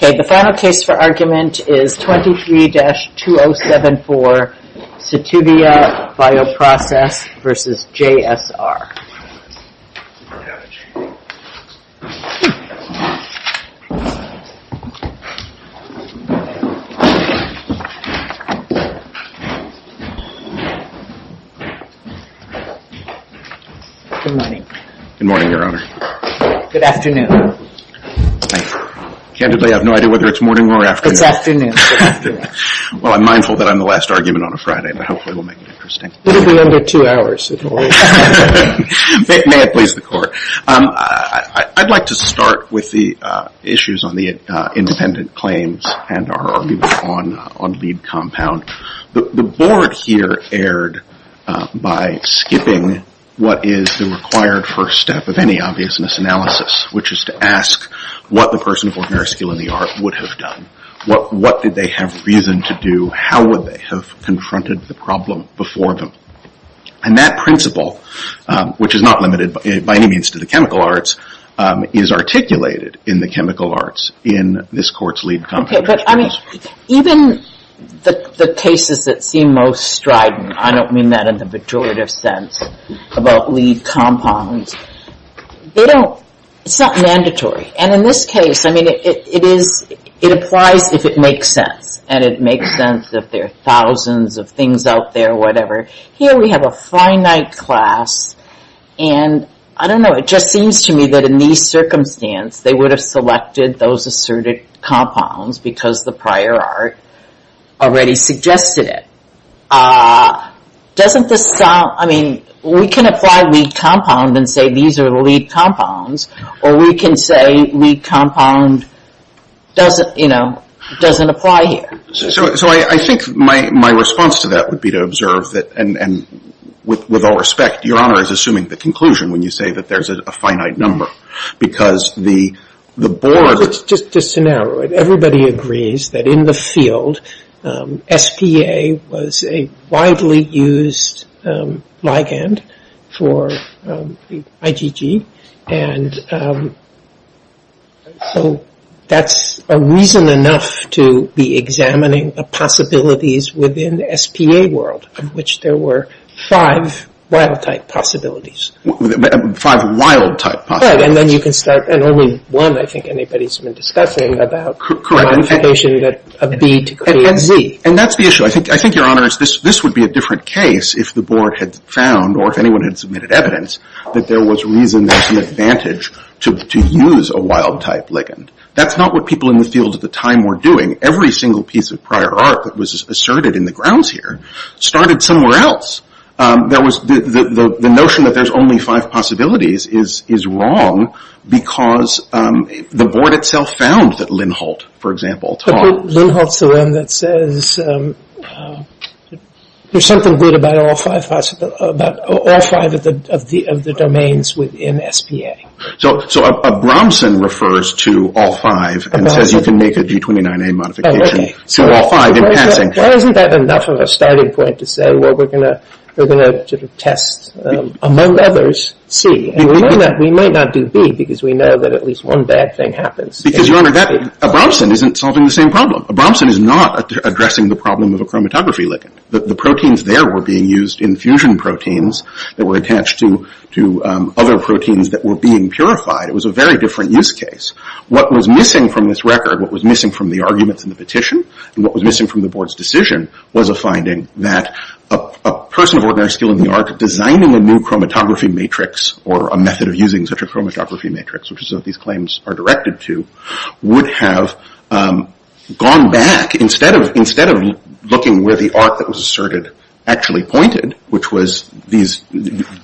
The final case for argument is 23-2074, Cytivia Bioprocess v. JSR. Good morning, Your Honor. Good afternoon. Candidly, I have no idea whether it's morning or afternoon. It's afternoon. Well, I'm mindful that I'm the last argument on a Friday, but hopefully we'll make it interesting. It'll be under two hours. May it please the Court. I'd like to start with the issues on the independent claims and our argument on lead compound. The Board here erred by skipping what is the required first step of any obviousness analysis, which is to ask what the person of ordinary skill in the art would have done. What did they have reason to do? How would they have confronted the problem before them? And that principle, which is not limited by any means to the chemical arts, is articulated in the chemical arts in this Court's lead compound. Okay, but, I mean, even the cases that seem most strident, I don't mean that in the pejorative sense about lead compounds, they don't, it's not mandatory. And in this case, I mean, it is, it applies if it makes sense. And it makes sense if there are thousands of things out there, whatever. Here we have a finite class, and I don't know, it just seems to me that in these circumstances, they would have selected those asserted compounds because the prior art already suggested it. Doesn't this sound, I mean, we can apply lead compound and say these are lead compounds, or we can say lead compound doesn't, you know, doesn't apply here. So I think my response to that would be to observe that, and with all respect, Your Honor is assuming the conclusion when you say that there's a finite number because the board... Just to narrow it, everybody agrees that in the field, SPA was a widely used ligand for IgG, and so that's a reason enough to be examining the possibilities within the SPA world, of which there were five wild-type possibilities. Five wild-type possibilities. Right, and then you can start, and only one I think anybody's been discussing about... Correct. ...the modification that a B to create a Z. And that's the issue. I think, Your Honor, this would be a different case if the board had found, or if anyone had submitted evidence, that there was reason there's the advantage to use a wild-type ligand. That's not what people in the field at the time were doing. Every single piece of prior art that was asserted in the grounds here started somewhere else. The notion that there's only five possibilities is wrong because the board itself found that Lindholt, for example, taught... Lindholt's the one that says there's something good about all five of the domains within SPA. So a Bromson refers to all five and says you can make a G29A modification to all five in passing. Well, isn't that enough of a starting point to say, well, we're going to test, among others, C. And we might not do B because we know that at least one bad thing happens. Because, Your Honor, a Bromson isn't solving the same problem. A Bromson is not addressing the problem of a chromatography ligand. The proteins there were being used in fusion proteins that were attached to other proteins that were being purified. It was a very different use case. What was missing from this record, what was missing from the arguments in the petition, and what was missing from the board's decision was a finding that a person of ordinary skill in the art designing a new chromatography matrix or a method of using such a chromatography matrix, which is what these claims are directed to, would have gone back. Instead of looking where the art that was asserted actually pointed, which was these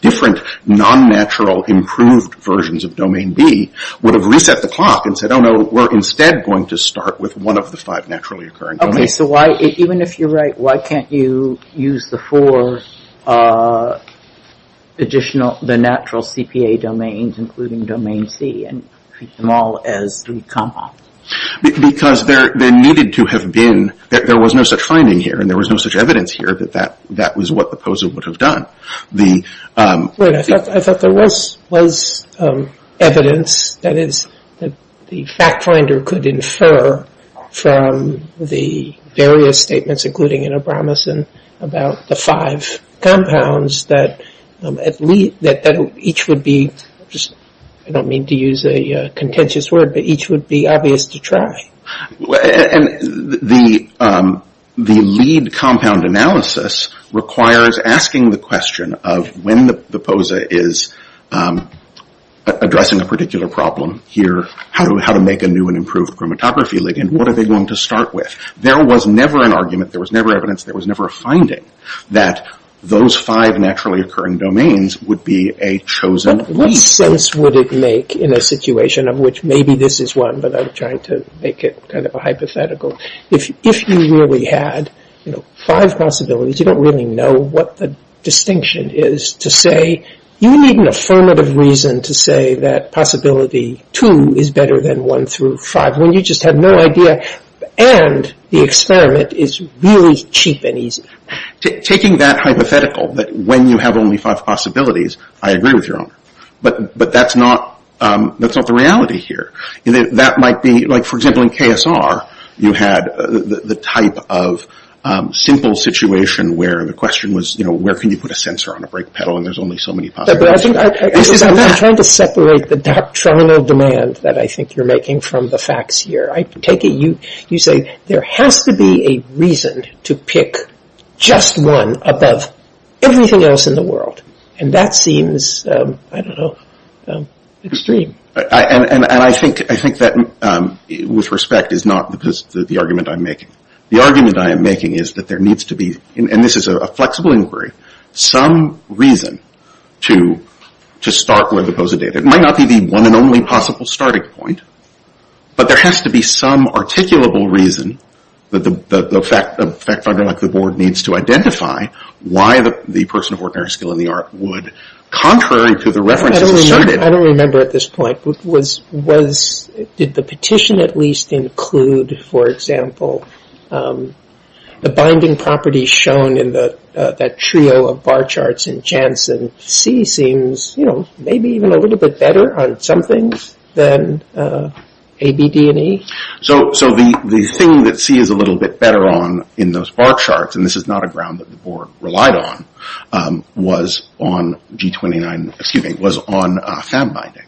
different non-natural improved versions of domain B, would have reset the clock and said, oh, no, we're instead going to start with one of the five naturally occurring domains. Okay, so why, even if you're right, why can't you use the four additional, the natural CPA domains, including domain C, and treat them all as three comma? Because there needed to have been, there was no such finding here, and there was no such evidence here that that was what the POSA would have done. Right, I thought there was evidence, that is, the fact finder could infer from the various statements, including in Abramson, about the five compounds that each would be, I don't mean to use a contentious word, but each would be obvious to try. And the lead compound analysis requires asking the question of when the POSA is addressing a particular problem here, how to make a new and improved chromatography ligand, what are they going to start with? There was never an argument, there was never evidence, there was never a finding that those five naturally occurring domains would be a chosen lead. What sense would it make in a situation of which maybe this is one, but I'm trying to make it kind of a hypothetical. If you really had, you know, five possibilities, you don't really know what the distinction is to say, you need an affirmative reason to say that possibility two is better than one through five, when you just have no idea, and the experiment is really cheap and easy. Taking that hypothetical, that when you have only five possibilities, I agree with your honor, but that's not the reality here. That might be, like, for example, in KSR, you had the type of simple situation where the question was, you know, where can you put a sensor on a brake pedal and there's only so many possibilities. I'm trying to separate the doctrinal demand that I think you're making from the facts here. I take it you say there has to be a reason to pick just one above everything else in the world, and that seems, I don't know, extreme. And I think that, with respect, is not the argument I'm making. The argument I am making is that there needs to be, and this is a flexible inquiry, some reason to start where the buzzard is. It might not be the one and only possible starting point, but there has to be some articulable reason that the fact finder, like the board, needs to identify why the person of ordinary skill in the art would, contrary to the references asserted... I don't remember at this point. Did the petition at least include, for example, the binding properties shown in that trio of bar charts in Janssen? And C seems, you know, maybe even a little bit better on some things than A, B, D, and E. So the thing that C is a little bit better on in those bar charts, and this is not a ground that the board relied on, was on G29... excuse me, was on fab binding.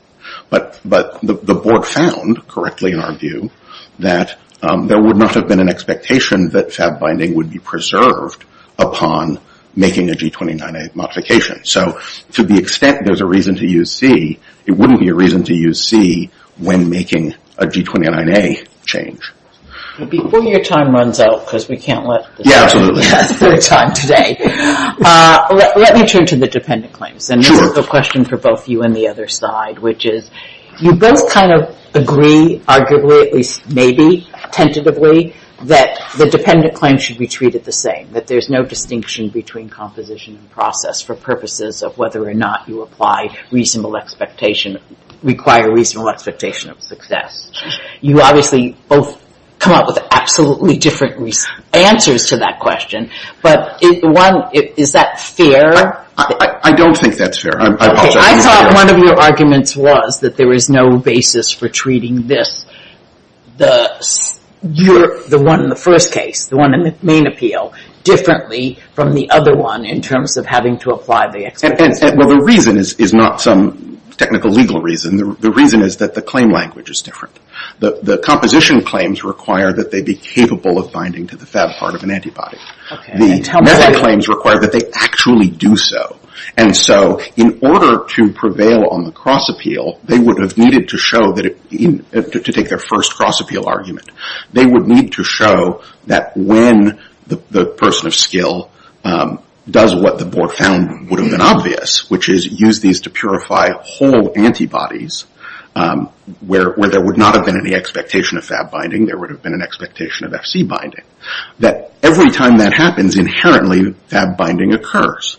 But the board found, correctly in our view, that there would not have been an expectation that fab binding would be preserved upon making a G29A modification. So to the extent there's a reason to use C, it wouldn't be a reason to use C when making a G29A change. Before your time runs out, because we can't let... Yeah, absolutely. ...the time today, let me turn to the dependent claims. Sure. And this is a question for both you and the other side, which is you both kind of agree, arguably, at least maybe tentatively, that the dependent claims should be treated the same, that there's no distinction between composition and process for purposes of whether or not you apply reasonable expectation, require reasonable expectation of success. You obviously both come up with absolutely different answers to that question, but one, is that fair? I don't think that's fair. I thought one of your arguments was that there was no basis for treating this, the one in the first case, the one in the main appeal, differently from the other one in terms of having to apply the expectation. Well, the reason is not some technical legal reason. The reason is that the claim language is different. The composition claims require that they be capable of binding to the fab part of an antibody. The method claims require that they actually do so, and so in order to prevail on the cross appeal, they would have needed to show that it, to take their first cross appeal argument, they would need to show that when the person of skill does what the board found would have been obvious, which is use these to purify whole antibodies, where there would not have been any expectation of fab binding, there would have been an expectation of FC binding, that every time that happens, inherently, fab binding occurs.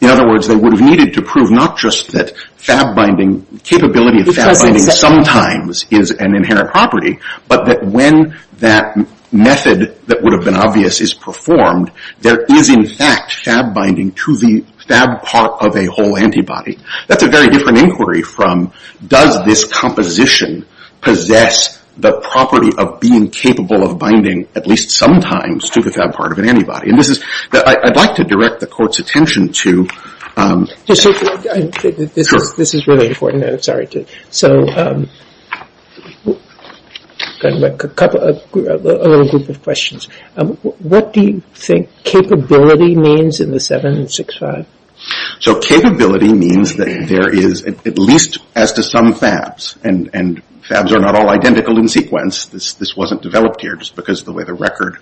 In other words, they would have needed to prove not just that fab binding, capability of fab binding sometimes is an inherent property, but that when that method that would have been obvious is performed, there is, in fact, fab binding to the fab part of a whole antibody. That's a very different inquiry from does this composition possess the property of being capable of binding, at least sometimes, to the fab part of an antibody. And this is, I'd like to direct the Court's attention to This is really important, I'm sorry. So, a couple, a little group of questions. What do you think capability means in the 765? So capability means that there is, at least as to some fabs, and fabs are not all identical in sequence, this wasn't developed here just because of the way the record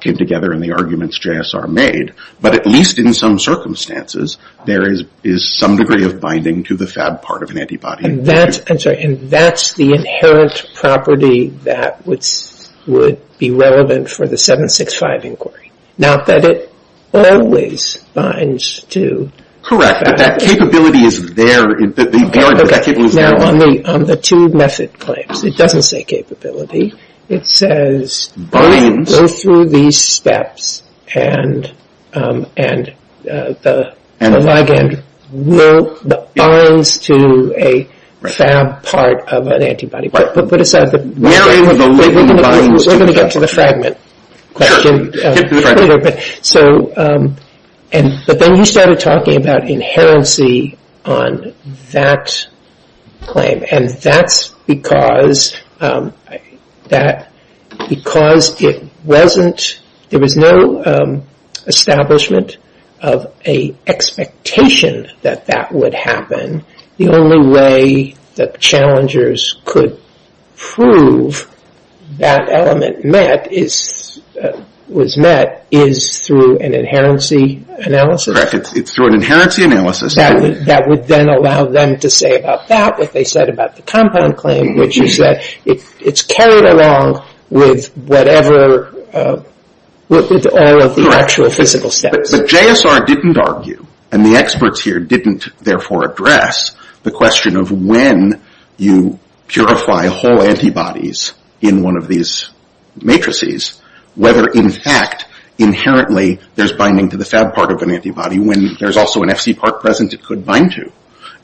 came together and the arguments JSR made, but at least in some circumstances, there is some degree of binding to the fab part of an antibody. And that's, I'm sorry, and that's the inherent property that would be relevant for the 765 inquiry. Not that it always binds to the fab part. Correct, but that capability is there. Now, on the two method claims, it doesn't say capability. It says go through these steps, and the ligand binds to a fab part of an antibody. Put aside the labeling of the ligand, we're going to get to the fragment question later. But then you started talking about inherency on that claim, and that's because it wasn't, there was no establishment of an expectation that that would happen. The only way that challengers could prove that element was met is through an inherency analysis. Correct, it's through an inherency analysis. That would then allow them to say about that, what they said about the compound claim, which is that it's carried along with whatever, with all of the actual physical steps. But JSR didn't argue, and the experts here didn't therefore address, the question of when you purify whole antibodies in one of these matrices, whether in fact inherently there's binding to the fab part of an antibody when there's also an FC part present it could bind to.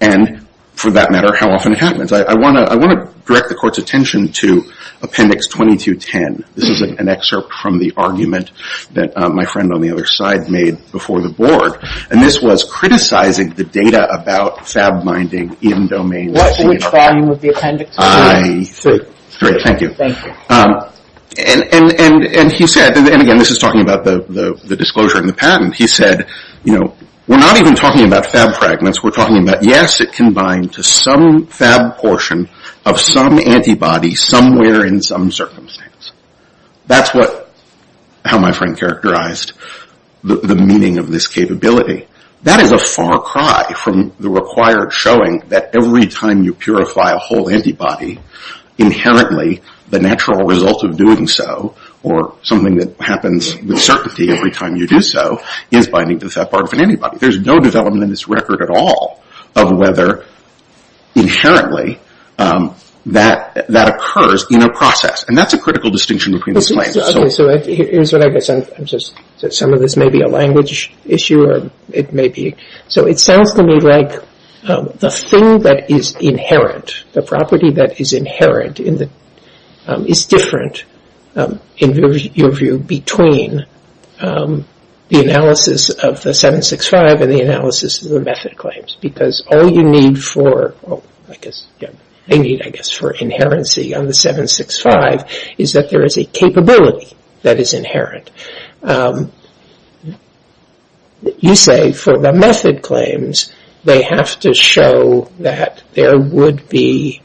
And for that matter, how often it happens. I want to direct the court's attention to appendix 2210. This is an excerpt from the argument that my friend on the other side made before the board, and this was criticizing the data about fab binding in domains. Which volume of the appendix? I see. Great, thank you. Thank you. And he said, and again this is talking about the disclosure in the patent, he said, you know, we're not even talking about fab fragments, we're talking about, yes, it can bind to some fab portion of some antibody somewhere in some circumstance. That's what, how my friend characterized the meaning of this capability. That is a far cry from the required showing that every time you purify a whole antibody, inherently the natural result of doing so, or something that happens with certainty every time you do so, is binding to the fab part of an antibody. There's no development in this record at all of whether inherently that occurs in a process. And that's a critical distinction between the claims. Okay, so here's what I guess. Some of this may be a language issue or it may be. So it sounds to me like the thing that is inherent, the property that is inherent is different, in your view, between the analysis of the 765 and the analysis of the method claims. Because all you need for, I guess, I need, I guess, for inherency on the 765 is that there is a capability that is inherent. You say for the method claims, they have to show that there would be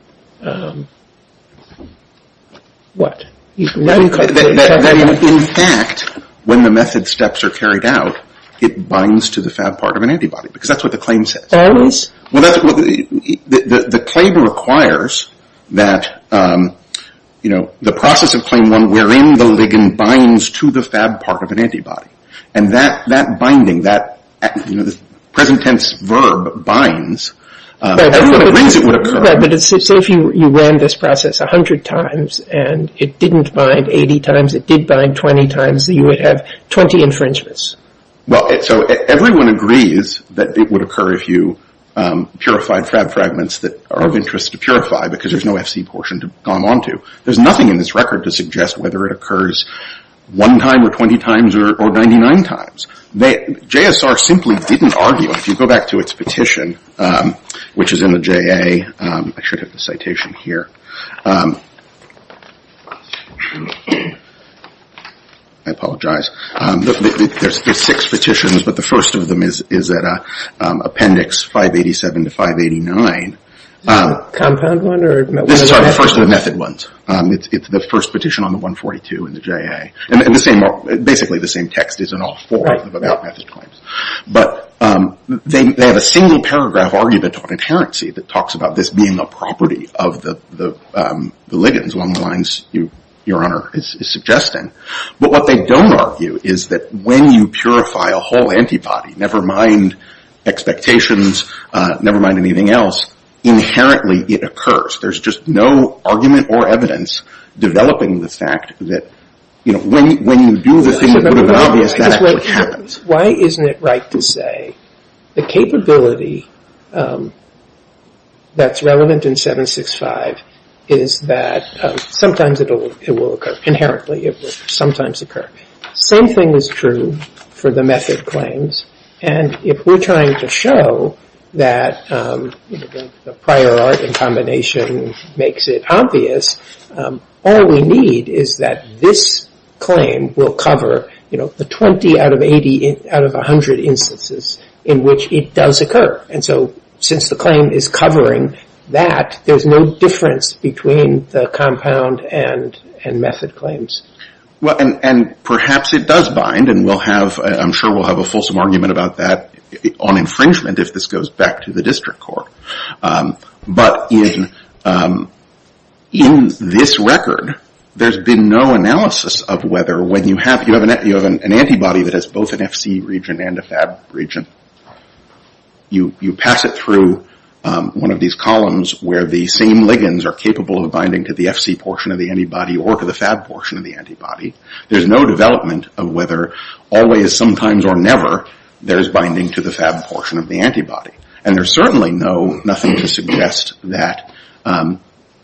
what? In fact, when the method steps are carried out, it binds to the fab part of an antibody, because that's what the claim says. Well, the claim requires that, you know, the process of claim one wherein the ligand binds to the fab part of an antibody. And that binding, that present tense verb binds, everyone agrees it would occur. But say if you ran this process 100 times and it didn't bind 80 times, it did bind 20 times, you would have 20 infringements. Well, so everyone agrees that it would occur if you purified fab fragments that are of interest to purify, because there's no FC portion to go on to. There's nothing in this record to suggest whether it occurs one time or 20 times or 99 times. JSR simply didn't argue. If you go back to its petition, which is in the JA, I should have the citation here. I apologize. There's six petitions, but the first of them is at Appendix 587 to 589. Compound one or method one? This is the first of the method ones. It's the first petition on the 142 in the JA. And basically the same text is in all four of the about method claims. But they have a single paragraph argument on inherency that talks about this being a property of the ligands, along the lines Your Honor is suggesting. But what they don't argue is that when you purify a whole antibody, never mind expectations, never mind anything else, inherently it occurs. There's just no argument or evidence developing the fact that when you do this thing that would have been obvious, that actually happens. Why isn't it right to say the capability that's relevant in 765 is that sometimes it will occur? Inherently it will sometimes occur. Same thing is true for the method claims. And if we're trying to show that the prior art in combination makes it obvious, all we need is that this claim will cover, you know, the 20 out of 80 out of 100 instances in which it does occur. And so since the claim is covering that, there's no difference between the compound and method claims. Well, and perhaps it does bind and we'll have, I'm sure we'll have a fulsome argument about that on infringement if this goes back to the district court. But in this record, there's been no analysis of whether when you have an antibody that has both an FC region and a FAB region, you pass it through one of these columns where the same ligands are capable of binding to the FC portion of the antibody or to the FAB portion of the antibody. There's no development of whether always, sometimes, or never, there's binding to the FAB portion of the antibody. And there's certainly no, nothing to suggest that,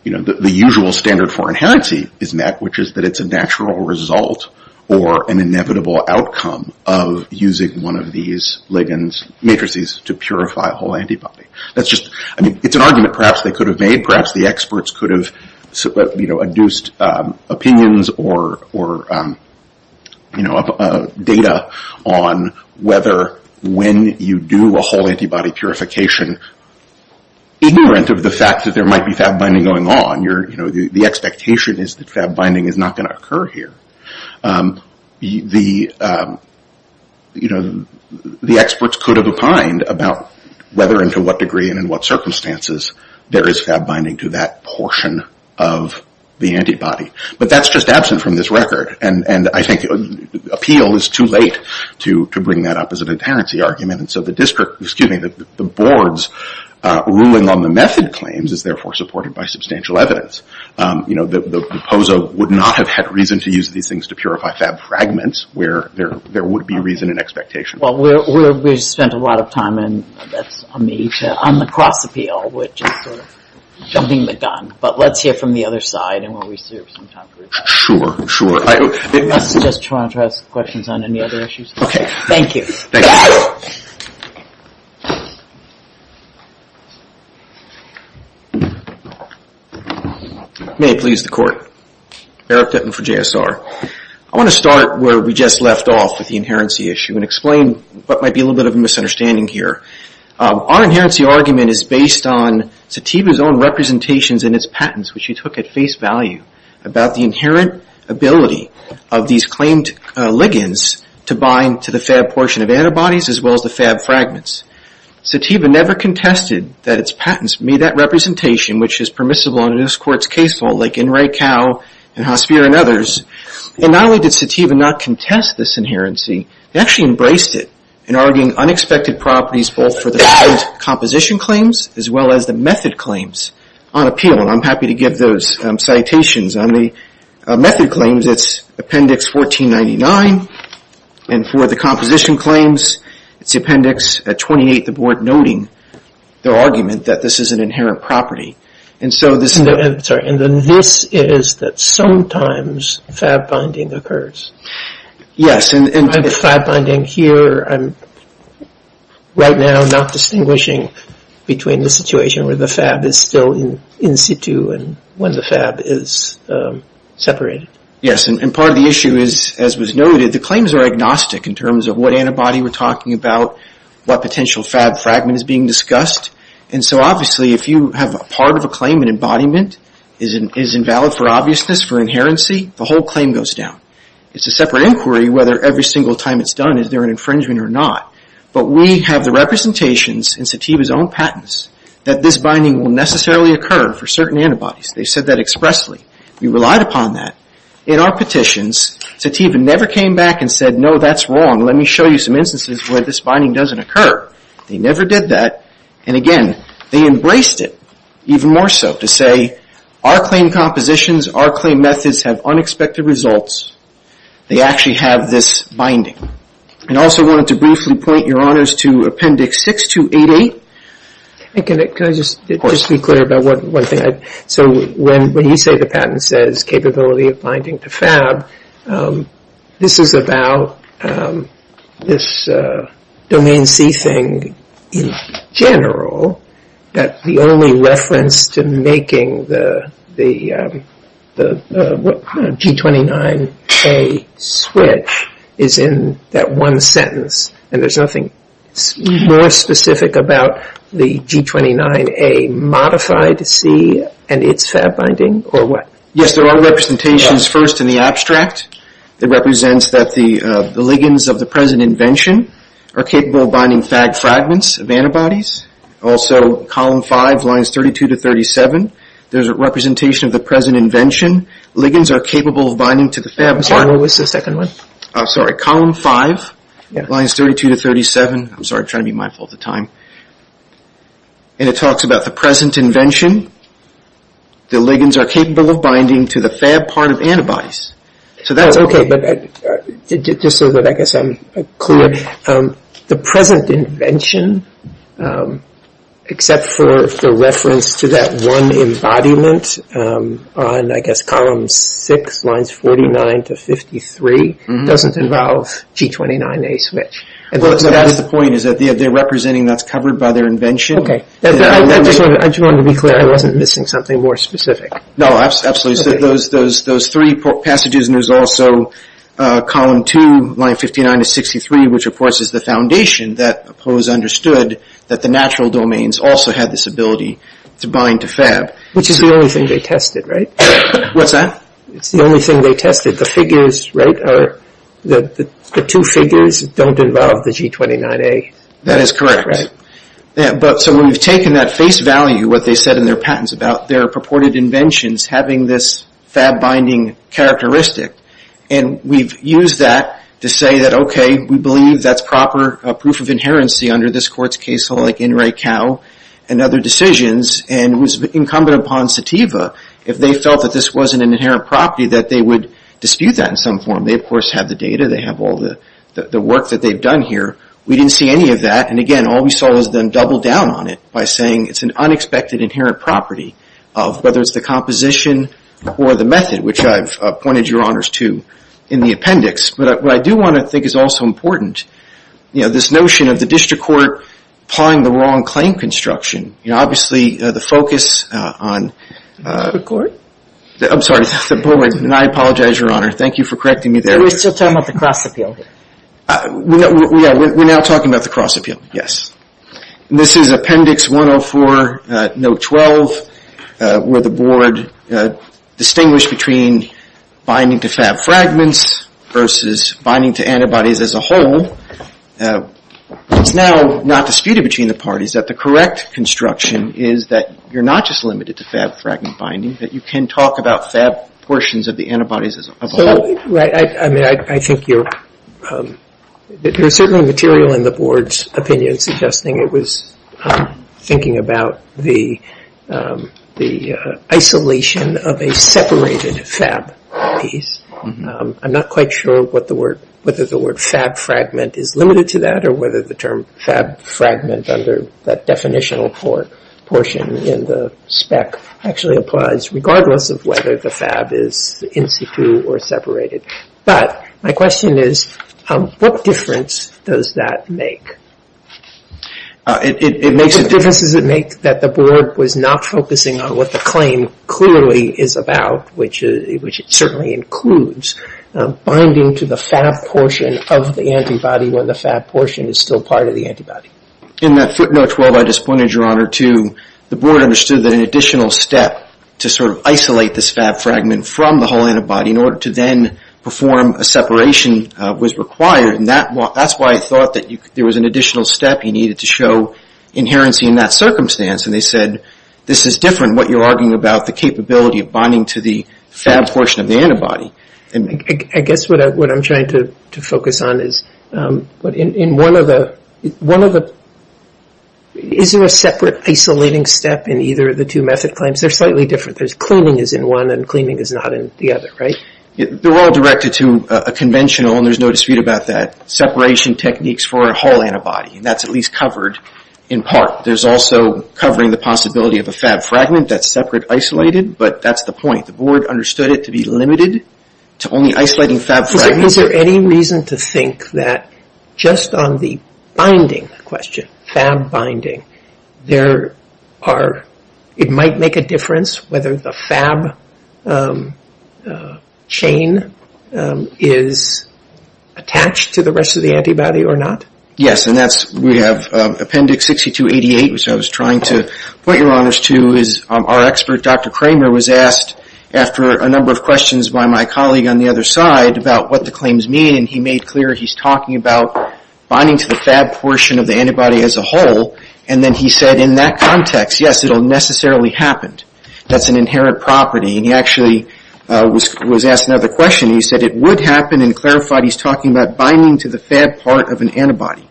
you know, the usual standard for inherency is met, which is that it's a natural result or an inevitable outcome of using one of these ligands, matrices, to purify a whole antibody. That's just, I mean, it's an argument perhaps they could have made, perhaps the experts could have, you know, induced opinions or, you know, data on whether when you do a whole antibody purification, ignorant of the fact that there might be FAB binding going on, you're, you know, the expectation is that FAB binding is not going to occur here. The, you know, the experts could have opined about whether and to what degree and in what circumstances there is FAB binding to that portion of the antibody. But that's just absent from this record. And I think appeal is too late to bring that up as an inherency argument. And so the district, excuse me, the board's ruling on the method claims is therefore supported by substantial evidence. You know, the POSO would not have had reason to use these things to purify FAB fragments where there would be reason and expectation. Well, we spent a lot of time, and that's on me, on the cross appeal, which is sort of jumping the gun. But let's hear from the other side and we'll reserve some time for that. Sure, sure. I was just trying to ask questions on any other issues. Okay. Thank you. Thank you. May it please the court. Eric Dutton for JSR. I want to start where we just left off with the inherency issue and explain what might be a little bit of a misunderstanding here. Our inherency argument is based on Satiba's own representations and its patents, which he took at face value, about the inherent ability of these claimed ligands to bind to the FAB portion of antibodies as well as the FAB fragments. Satiba never contested that its patents made that representation, which is permissible under this court's case law, like N. Ray Kao and Hospier and others. And not only did Satiba not contest this inherency, he actually embraced it in arguing unexpected properties both for the patent composition claims as well as the method claims on appeal, and I'm happy to give those citations. On the method claims, it's Appendix 1499, and for the composition claims, it's Appendix 28, the board noting their argument that this is an inherent property. And so this is... I'm sorry. And then this is that sometimes FAB binding occurs. Yes. And the FAB binding here, I'm right now not distinguishing between the situation where the FAB is still in situ and when the FAB is separated. Yes, and part of the issue is, as was noted, the claims are agnostic in terms of what antibody we're talking about, what potential FAB fragment is being discussed. And so obviously if you have a part of a claim, an embodiment is invalid for obviousness, for inherency, the whole claim goes down. It's a separate inquiry whether every single time it's done is there an infringement or not. But we have the representations in Satiba's own patents that this binding will necessarily occur for certain antibodies. They said that expressly. We relied upon that. In our petitions, Satiba never came back and said, no, that's wrong, let me show you some instances where this binding doesn't occur. They never did that. And again, they embraced it even more so to say, our claim compositions, our claim methods have unexpected results. They actually have this binding. I also wanted to briefly point your honors to Appendix 6288. Can I just be clear about one thing? So when you say the patent says capability of binding to FAB, this is about this Domain C thing in general, that the only reference to making the G29A switch is in that one sentence, and there's nothing more specific about the G29A modified C and its FAB binding or what? Yes, there are representations first in the abstract. It represents that the ligands of the present invention are capable of binding FAB fragments of antibodies. Also, Column 5, Lines 32 to 37, there's a representation of the present invention. Ligands are capable of binding to the FAB. I'm sorry, what was the second one? I'm sorry, Column 5, Lines 32 to 37. I'm sorry, I'm trying to be mindful of the time. And it talks about the present invention. The ligands are capable of binding to the FAB part of antibodies. So that's okay. Just so that I guess I'm clear, the present invention except for the reference to that one embodiment on, I guess, Column 6, Lines 49 to 53, doesn't involve G29A switch. Well, that's the point, is that they're representing that's covered by their invention. Okay. I just wanted to be clear. I wasn't missing something more specific. No, absolutely. So those three passages, and there's also Column 2, Lines 59 to 63, which of course is the foundation that Poe's understood that the natural domains also had this ability to bind to FAB. Which is the only thing they tested, right? What's that? It's the only thing they tested. The figures, right, are the two figures don't involve the G29A. That is correct. Right. But so we've taken that face value, what they said in their patents about their purported inventions having this FAB binding characteristic, and we've used that to say that, okay, we believe that's proper proof of inherency under this court's case, and other decisions, and it was incumbent upon Sativa, if they felt that this wasn't an inherent property, that they would dispute that in some form. They, of course, have the data. They have all the work that they've done here. We didn't see any of that, and again, all we saw was them double down on it by saying it's an unexpected inherent property of whether it's the composition or the method, which I've pointed your honors to in the appendix. But what I do want to think is also important, this notion of the district court applying the wrong claim construction. Obviously, the focus on- The court? I'm sorry, the board, and I apologize, your honor. Thank you for correcting me there. We're still talking about the cross appeal. Yeah, we're now talking about the cross appeal, yes. This is appendix 104, note 12, where the board distinguished between binding to FAB fragments versus binding to antibodies as a whole. It's now not disputed between the parties that the correct construction is that you're not just limited to FAB fragment binding, that you can talk about FAB portions of the antibodies as a whole. Right. I mean, I think you're certainly material in the board's opinion suggesting it was thinking about the isolation of a separated FAB piece. I'm not quite sure whether the word FAB fragment is limited to that or whether the term FAB fragment under that definitional portion in the spec actually applies, regardless of whether the FAB is in situ or separated. But my question is, what difference does that make? It makes- What difference does it make that the board was not focusing on what the claim clearly is about, which it certainly includes, binding to the FAB portion of the antibody when the FAB portion is still part of the antibody? In that footnote 12, I just pointed your honor to the board understood that an additional step to sort of isolate this FAB fragment from the whole antibody in order to then perform a separation was required. And that's why I thought that there was an additional step you needed to show inherency in that circumstance. And they said, this is different, what you're arguing about, the capability of binding to the FAB portion of the antibody. I guess what I'm trying to focus on is, in one of the- Is there a separate isolating step in either of the two method claims? They're slightly different. There's cleaning is in one and cleaning is not in the other, right? They're all directed to a conventional, and there's no dispute about that, separation techniques for a whole antibody. And that's at least covered in part. There's also covering the possibility of a FAB fragment that's separate isolated, but that's the point. The board understood it to be limited to only isolating FAB fragments. Is there any reason to think that just on the binding question, FAB binding, there are- It might make a difference whether the FAB chain is attached to the rest of the antibody or not? Yes, and that's- We have appendix 6288, which I was trying to point your honors to, our expert, Dr. Kramer, was asked after a number of questions by my colleague on the other side about what the claims mean, and he made clear he's talking about binding to the FAB portion of the antibody as a whole. And then he said in that context, yes, it will necessarily happen. That's an inherent property. And he actually was asked another question. He said it would happen and clarified he's talking about binding to the FAB part of an antibody.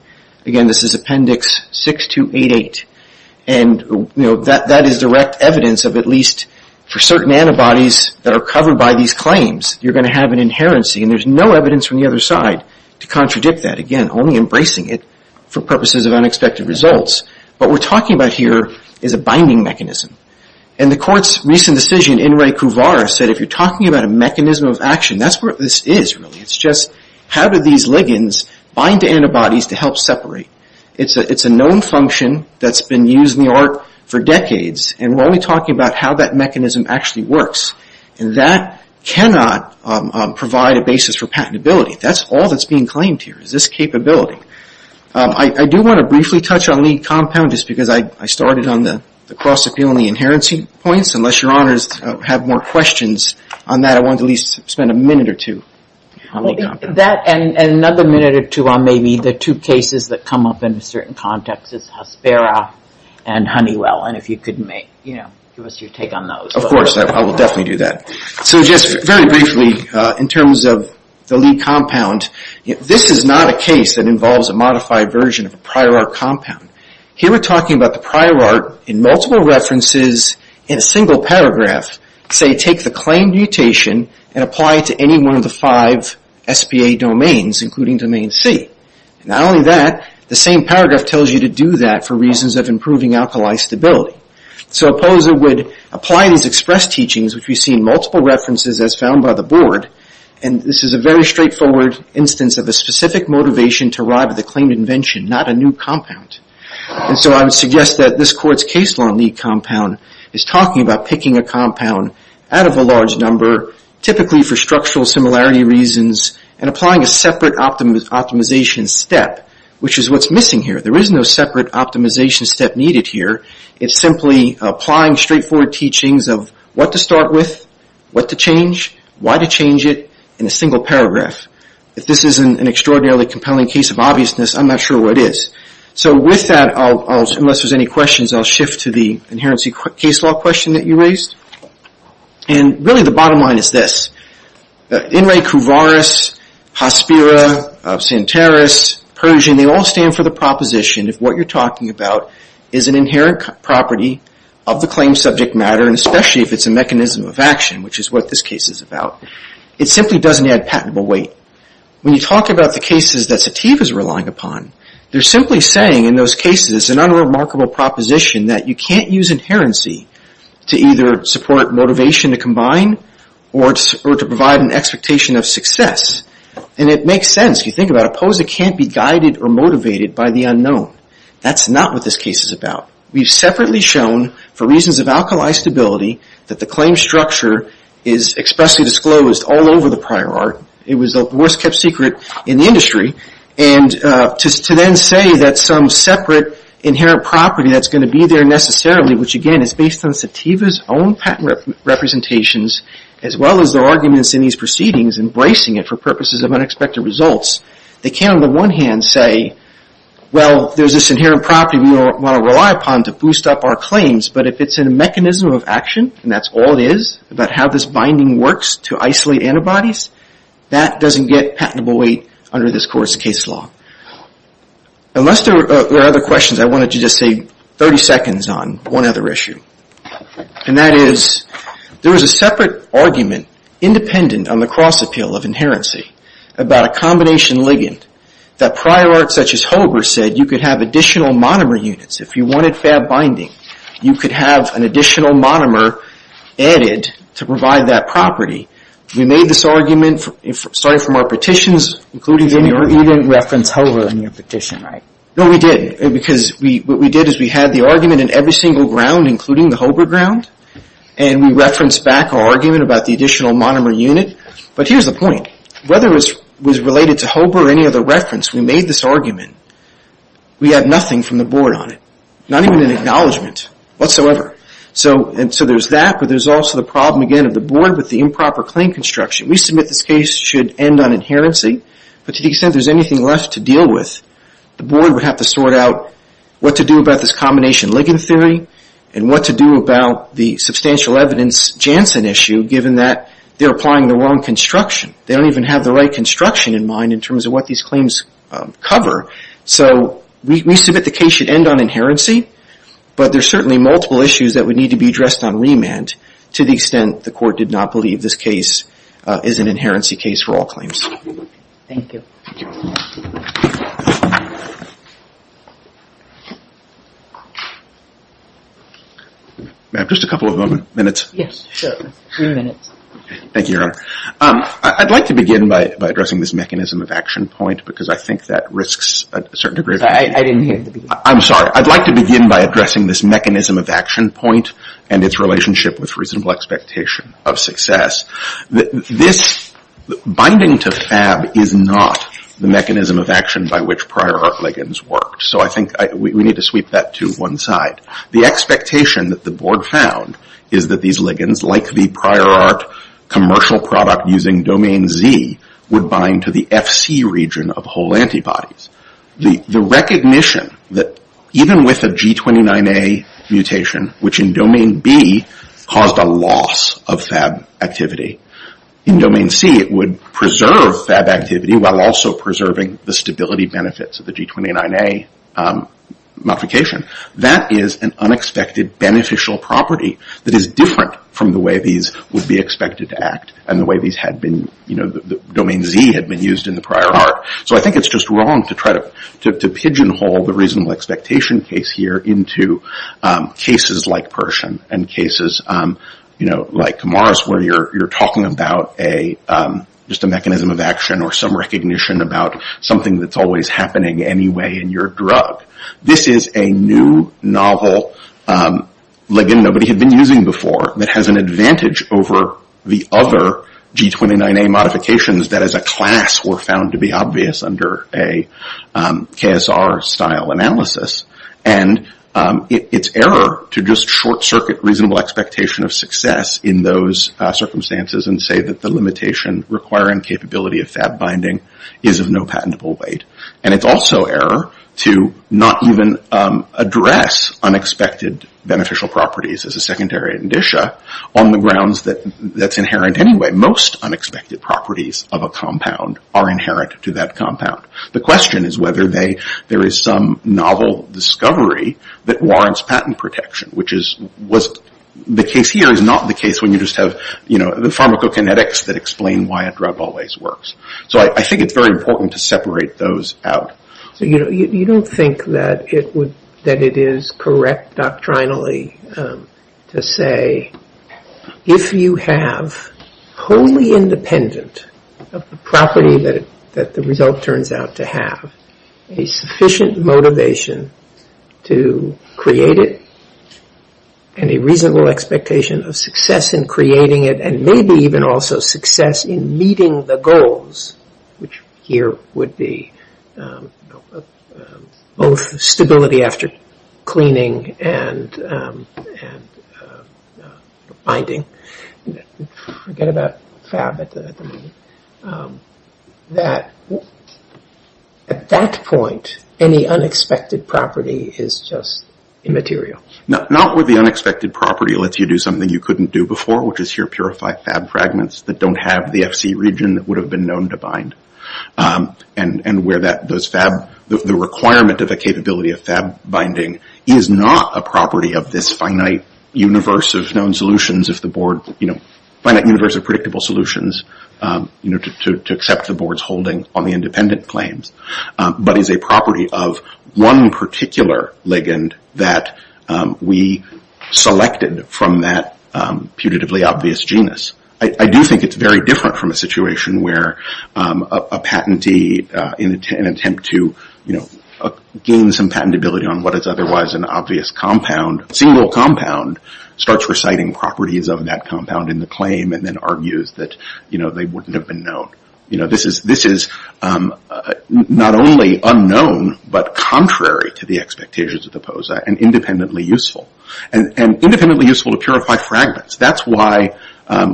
Again, this is appendix 6288. And that is direct evidence of at least for certain antibodies that are covered by these claims, you're going to have an inherency. And there's no evidence from the other side to contradict that. Again, only embracing it for purposes of unexpected results. What we're talking about here is a binding mechanism. In the court's recent decision, Inrei Kuvar said, if you're talking about a mechanism of action, that's what this is really. It's just how do these ligands bind to antibodies to help separate? It's a known function that's been used in the art for decades. And we're only talking about how that mechanism actually works. And that cannot provide a basis for patentability. That's all that's being claimed here is this capability. I do want to briefly touch on lead compound just because I started on the cross-appeal and the inherency points. Unless your honors have more questions on that, I wanted to at least spend a minute or two. And another minute or two on maybe the two cases that come up in a certain context is Hespera and Honeywell. And if you could give us your take on those. Of course, I will definitely do that. So just very briefly, in terms of the lead compound, this is not a case that involves a modified version of a prior art compound. Here we're talking about the prior art in multiple references in a single paragraph. Say, take the claimed mutation and apply it to any one of the five SBA domains, including domain C. Not only that, the same paragraph tells you to do that for reasons of improving alkali stability. So a poser would apply these express teachings, which we see in multiple references as found by the board. And this is a very straightforward instance of a specific motivation to arrive at the claimed invention, not a new compound. And so I would suggest that this court's case law lead compound is talking about picking a compound out of a large number, typically for structural similarity reasons, and applying a separate optimization step, which is what's missing here. There is no separate optimization step needed here. It's simply applying straightforward teachings of what to start with, what to change, why to change it in a single paragraph. If this isn't an extraordinarily compelling case of obviousness, I'm not sure what is. So with that, unless there's any questions, I'll shift to the inherency case law question that you raised. And really the bottom line is this. In re cuvaris, hospira, centaris, Persian, they all stand for the proposition that what you're talking about is an inherent property of the claim subject matter, and especially if it's a mechanism of action, which is what this case is about. It simply doesn't add patentable weight. When you talk about the cases that Sativ is relying upon, they're simply saying in those cases it's an unremarkable proposition that you can't use inherency to either support motivation to combine or to provide an expectation of success. And it makes sense. If you think about it, POSA can't be guided or motivated by the unknown. That's not what this case is about. We've separately shown, for reasons of alkali stability, that the claim structure is expressly disclosed all over the prior art. It was the worst kept secret in the industry. To then say that some separate inherent property that's going to be there necessarily, which again is based on Sativa's own patent representations, as well as their arguments in these proceedings, embracing it for purposes of unexpected results, they can, on the one hand, say, well, there's this inherent property we want to rely upon to boost up our claims, but if it's a mechanism of action, and that's all it is about how this binding works to isolate antibodies, that doesn't get patentable weight under this court's case law. Unless there are other questions, I wanted to just say 30 seconds on one other issue. And that is, there is a separate argument, independent on the cross-appeal of inherency, about a combination ligand that prior art such as Hober said you could have additional monomer units. If you wanted fab binding, you could have an additional monomer added to provide that property. We made this argument starting from our petitions. You didn't reference Hober in your petition, right? No, we didn't. Because what we did is we had the argument in every single ground, including the Hober ground, and we referenced back our argument about the additional monomer unit. But here's the point. Whether it was related to Hober or any other reference, we made this argument. We had nothing from the board on it. Not even an acknowledgment whatsoever. So there's that, but there's also the problem again of the board with the improper claim construction. We submit this case should end on inherency, but to the extent there's anything left to deal with, the board would have to sort out what to do about this combination ligand theory and what to do about the substantial evidence Janssen issue, given that they're applying the wrong construction. They don't even have the right construction in mind in terms of what these claims cover. So we submit the case should end on inherency, but there are certainly multiple issues that would need to be addressed on remand to the extent the court did not believe this case is an inherency case for all claims. Thank you. Ma'am, just a couple of minutes. Yes, sure. Three minutes. Thank you, Your Honor. I'd like to begin by addressing this mechanism of action point because I think that risks a certain degree of... I didn't hear the beginning. I'm sorry. I'd like to begin by addressing this mechanism of action point and its relationship with reasonable expectation of success. Binding to FAB is not the mechanism of action by which prior art ligands worked, so I think we need to sweep that to one side. The expectation that the board found is that these ligands, like the prior art commercial product using domain Z, would bind to the FC region of whole antibodies. The recognition that even with a G29A mutation, which in domain B caused a loss of FAB activity, in domain C it would preserve FAB activity while also preserving the stability benefits of the G29A mutation, that is an unexpected beneficial property that is different from the way these would be expected to act and the way these had been... Domain Z had been used in the prior art. So I think it's just wrong to try to pigeonhole the reasonable expectation case here into cases like Persian and cases like Camaras, where you're talking about just a mechanism of action or some recognition about something that's always happening anyway in your drug. This is a new novel ligand nobody had been using before that has an advantage over the other G29A modifications that as a class were found to be obvious under a KSR-style analysis. And it's error to just short-circuit reasonable expectation of success in those circumstances and say that the limitation requiring capability of FAB binding is of no patentable weight. And it's also error to not even address unexpected beneficial properties as a secondary indicia on the grounds that that's inherent anyway. Most unexpected properties of a compound are inherent to that compound. The question is whether there is some novel discovery that warrants patent protection, which the case here is not the case when you just have the pharmacokinetics that explain why a drug always works. So I think it's very important to separate those out. So you don't think that it is correct doctrinally to say if you have wholly independent of the property that the result turns out to have, a sufficient motivation to create it and a reasonable expectation of success in creating it and maybe even also success in meeting the goals, which here would be both stability after cleaning and binding, forget about FAB at the moment, that at that point any unexpected property is just immaterial. Not where the unexpected property lets you do something you couldn't do before, which is here purify FAB fragments that don't have the FC region that would have been known to bind. And where that does FAB, the requirement of a capability of FAB binding is not a property of this finite universe of known solutions of the board, finite universe of predictable solutions to accept the board's holding on the independent claims, but is a property of one particular ligand that we selected from that putatively obvious genus. I do think it's very different from a situation where a patentee in an attempt to gain some patentability on what is otherwise an obvious compound, a single compound, starts reciting properties of that compound in the claim and then argues that they wouldn't have been known. This is not only unknown, but contrary to the expectations of the POSA and independently useful. And independently useful to purify fragments. That's why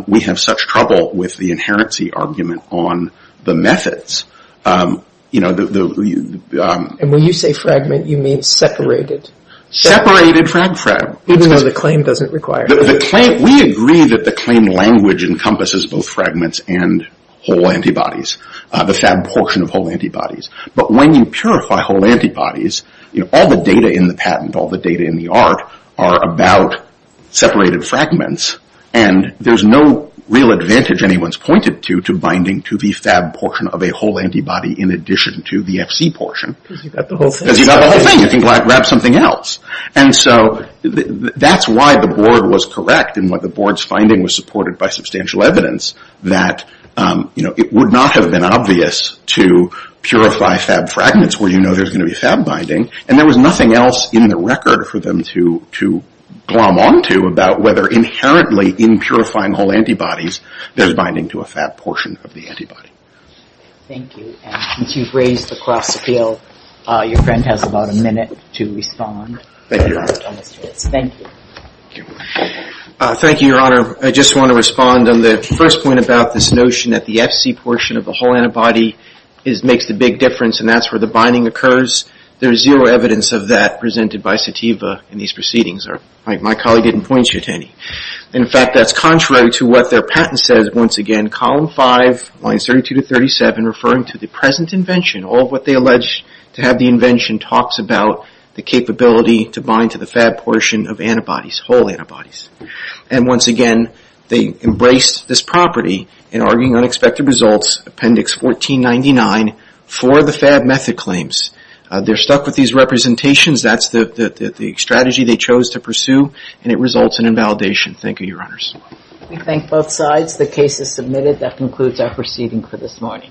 we have such trouble with the inherency argument on the methods. And when you say fragment, you mean separated. Separated FRAG-FRAG. Even though the claim doesn't require it. We agree that the claim language encompasses both fragments and whole antibodies, the FAB portion of whole antibodies. But when you purify whole antibodies, all the data in the patent, all the data in the art are about separated fragments, and there's no real advantage anyone's pointed to binding to the FAB portion of a whole antibody in addition to the FC portion. Because you've got the whole thing. Because you've got the whole thing. You can grab something else. And so that's why the board was correct in what the board's finding was supported by substantial evidence that it would not have been obvious to purify FAB fragments where you know there's going to be FAB binding. And there was nothing else in the record for them to glom onto about whether inherently in purifying whole antibodies there's binding to a FAB portion of the antibody. Thank you. And since you've raised the cross appeal, your friend has about a minute to respond. Thank you. Thank you, Your Honor. I just want to respond on the first point about this notion that the FC portion of the whole antibody makes the big difference and that's where the binding occurs. There's zero evidence of that presented by Sativa in these proceedings. My colleague didn't point you to any. In fact, that's contrary to what their patent says once again. Column 5, lines 32 to 37, referring to the present invention. All of what they allege to have the invention talks about the capability to bind to the FAB portion of antibodies, whole antibodies. And once again, they embraced this property in arguing unexpected results, appendix 1499, for the FAB method claims. They're stuck with these representations. That's the strategy they chose to pursue and it results in invalidation. Thank you, Your Honors. We thank both sides. The case is submitted. That concludes our proceeding for this morning.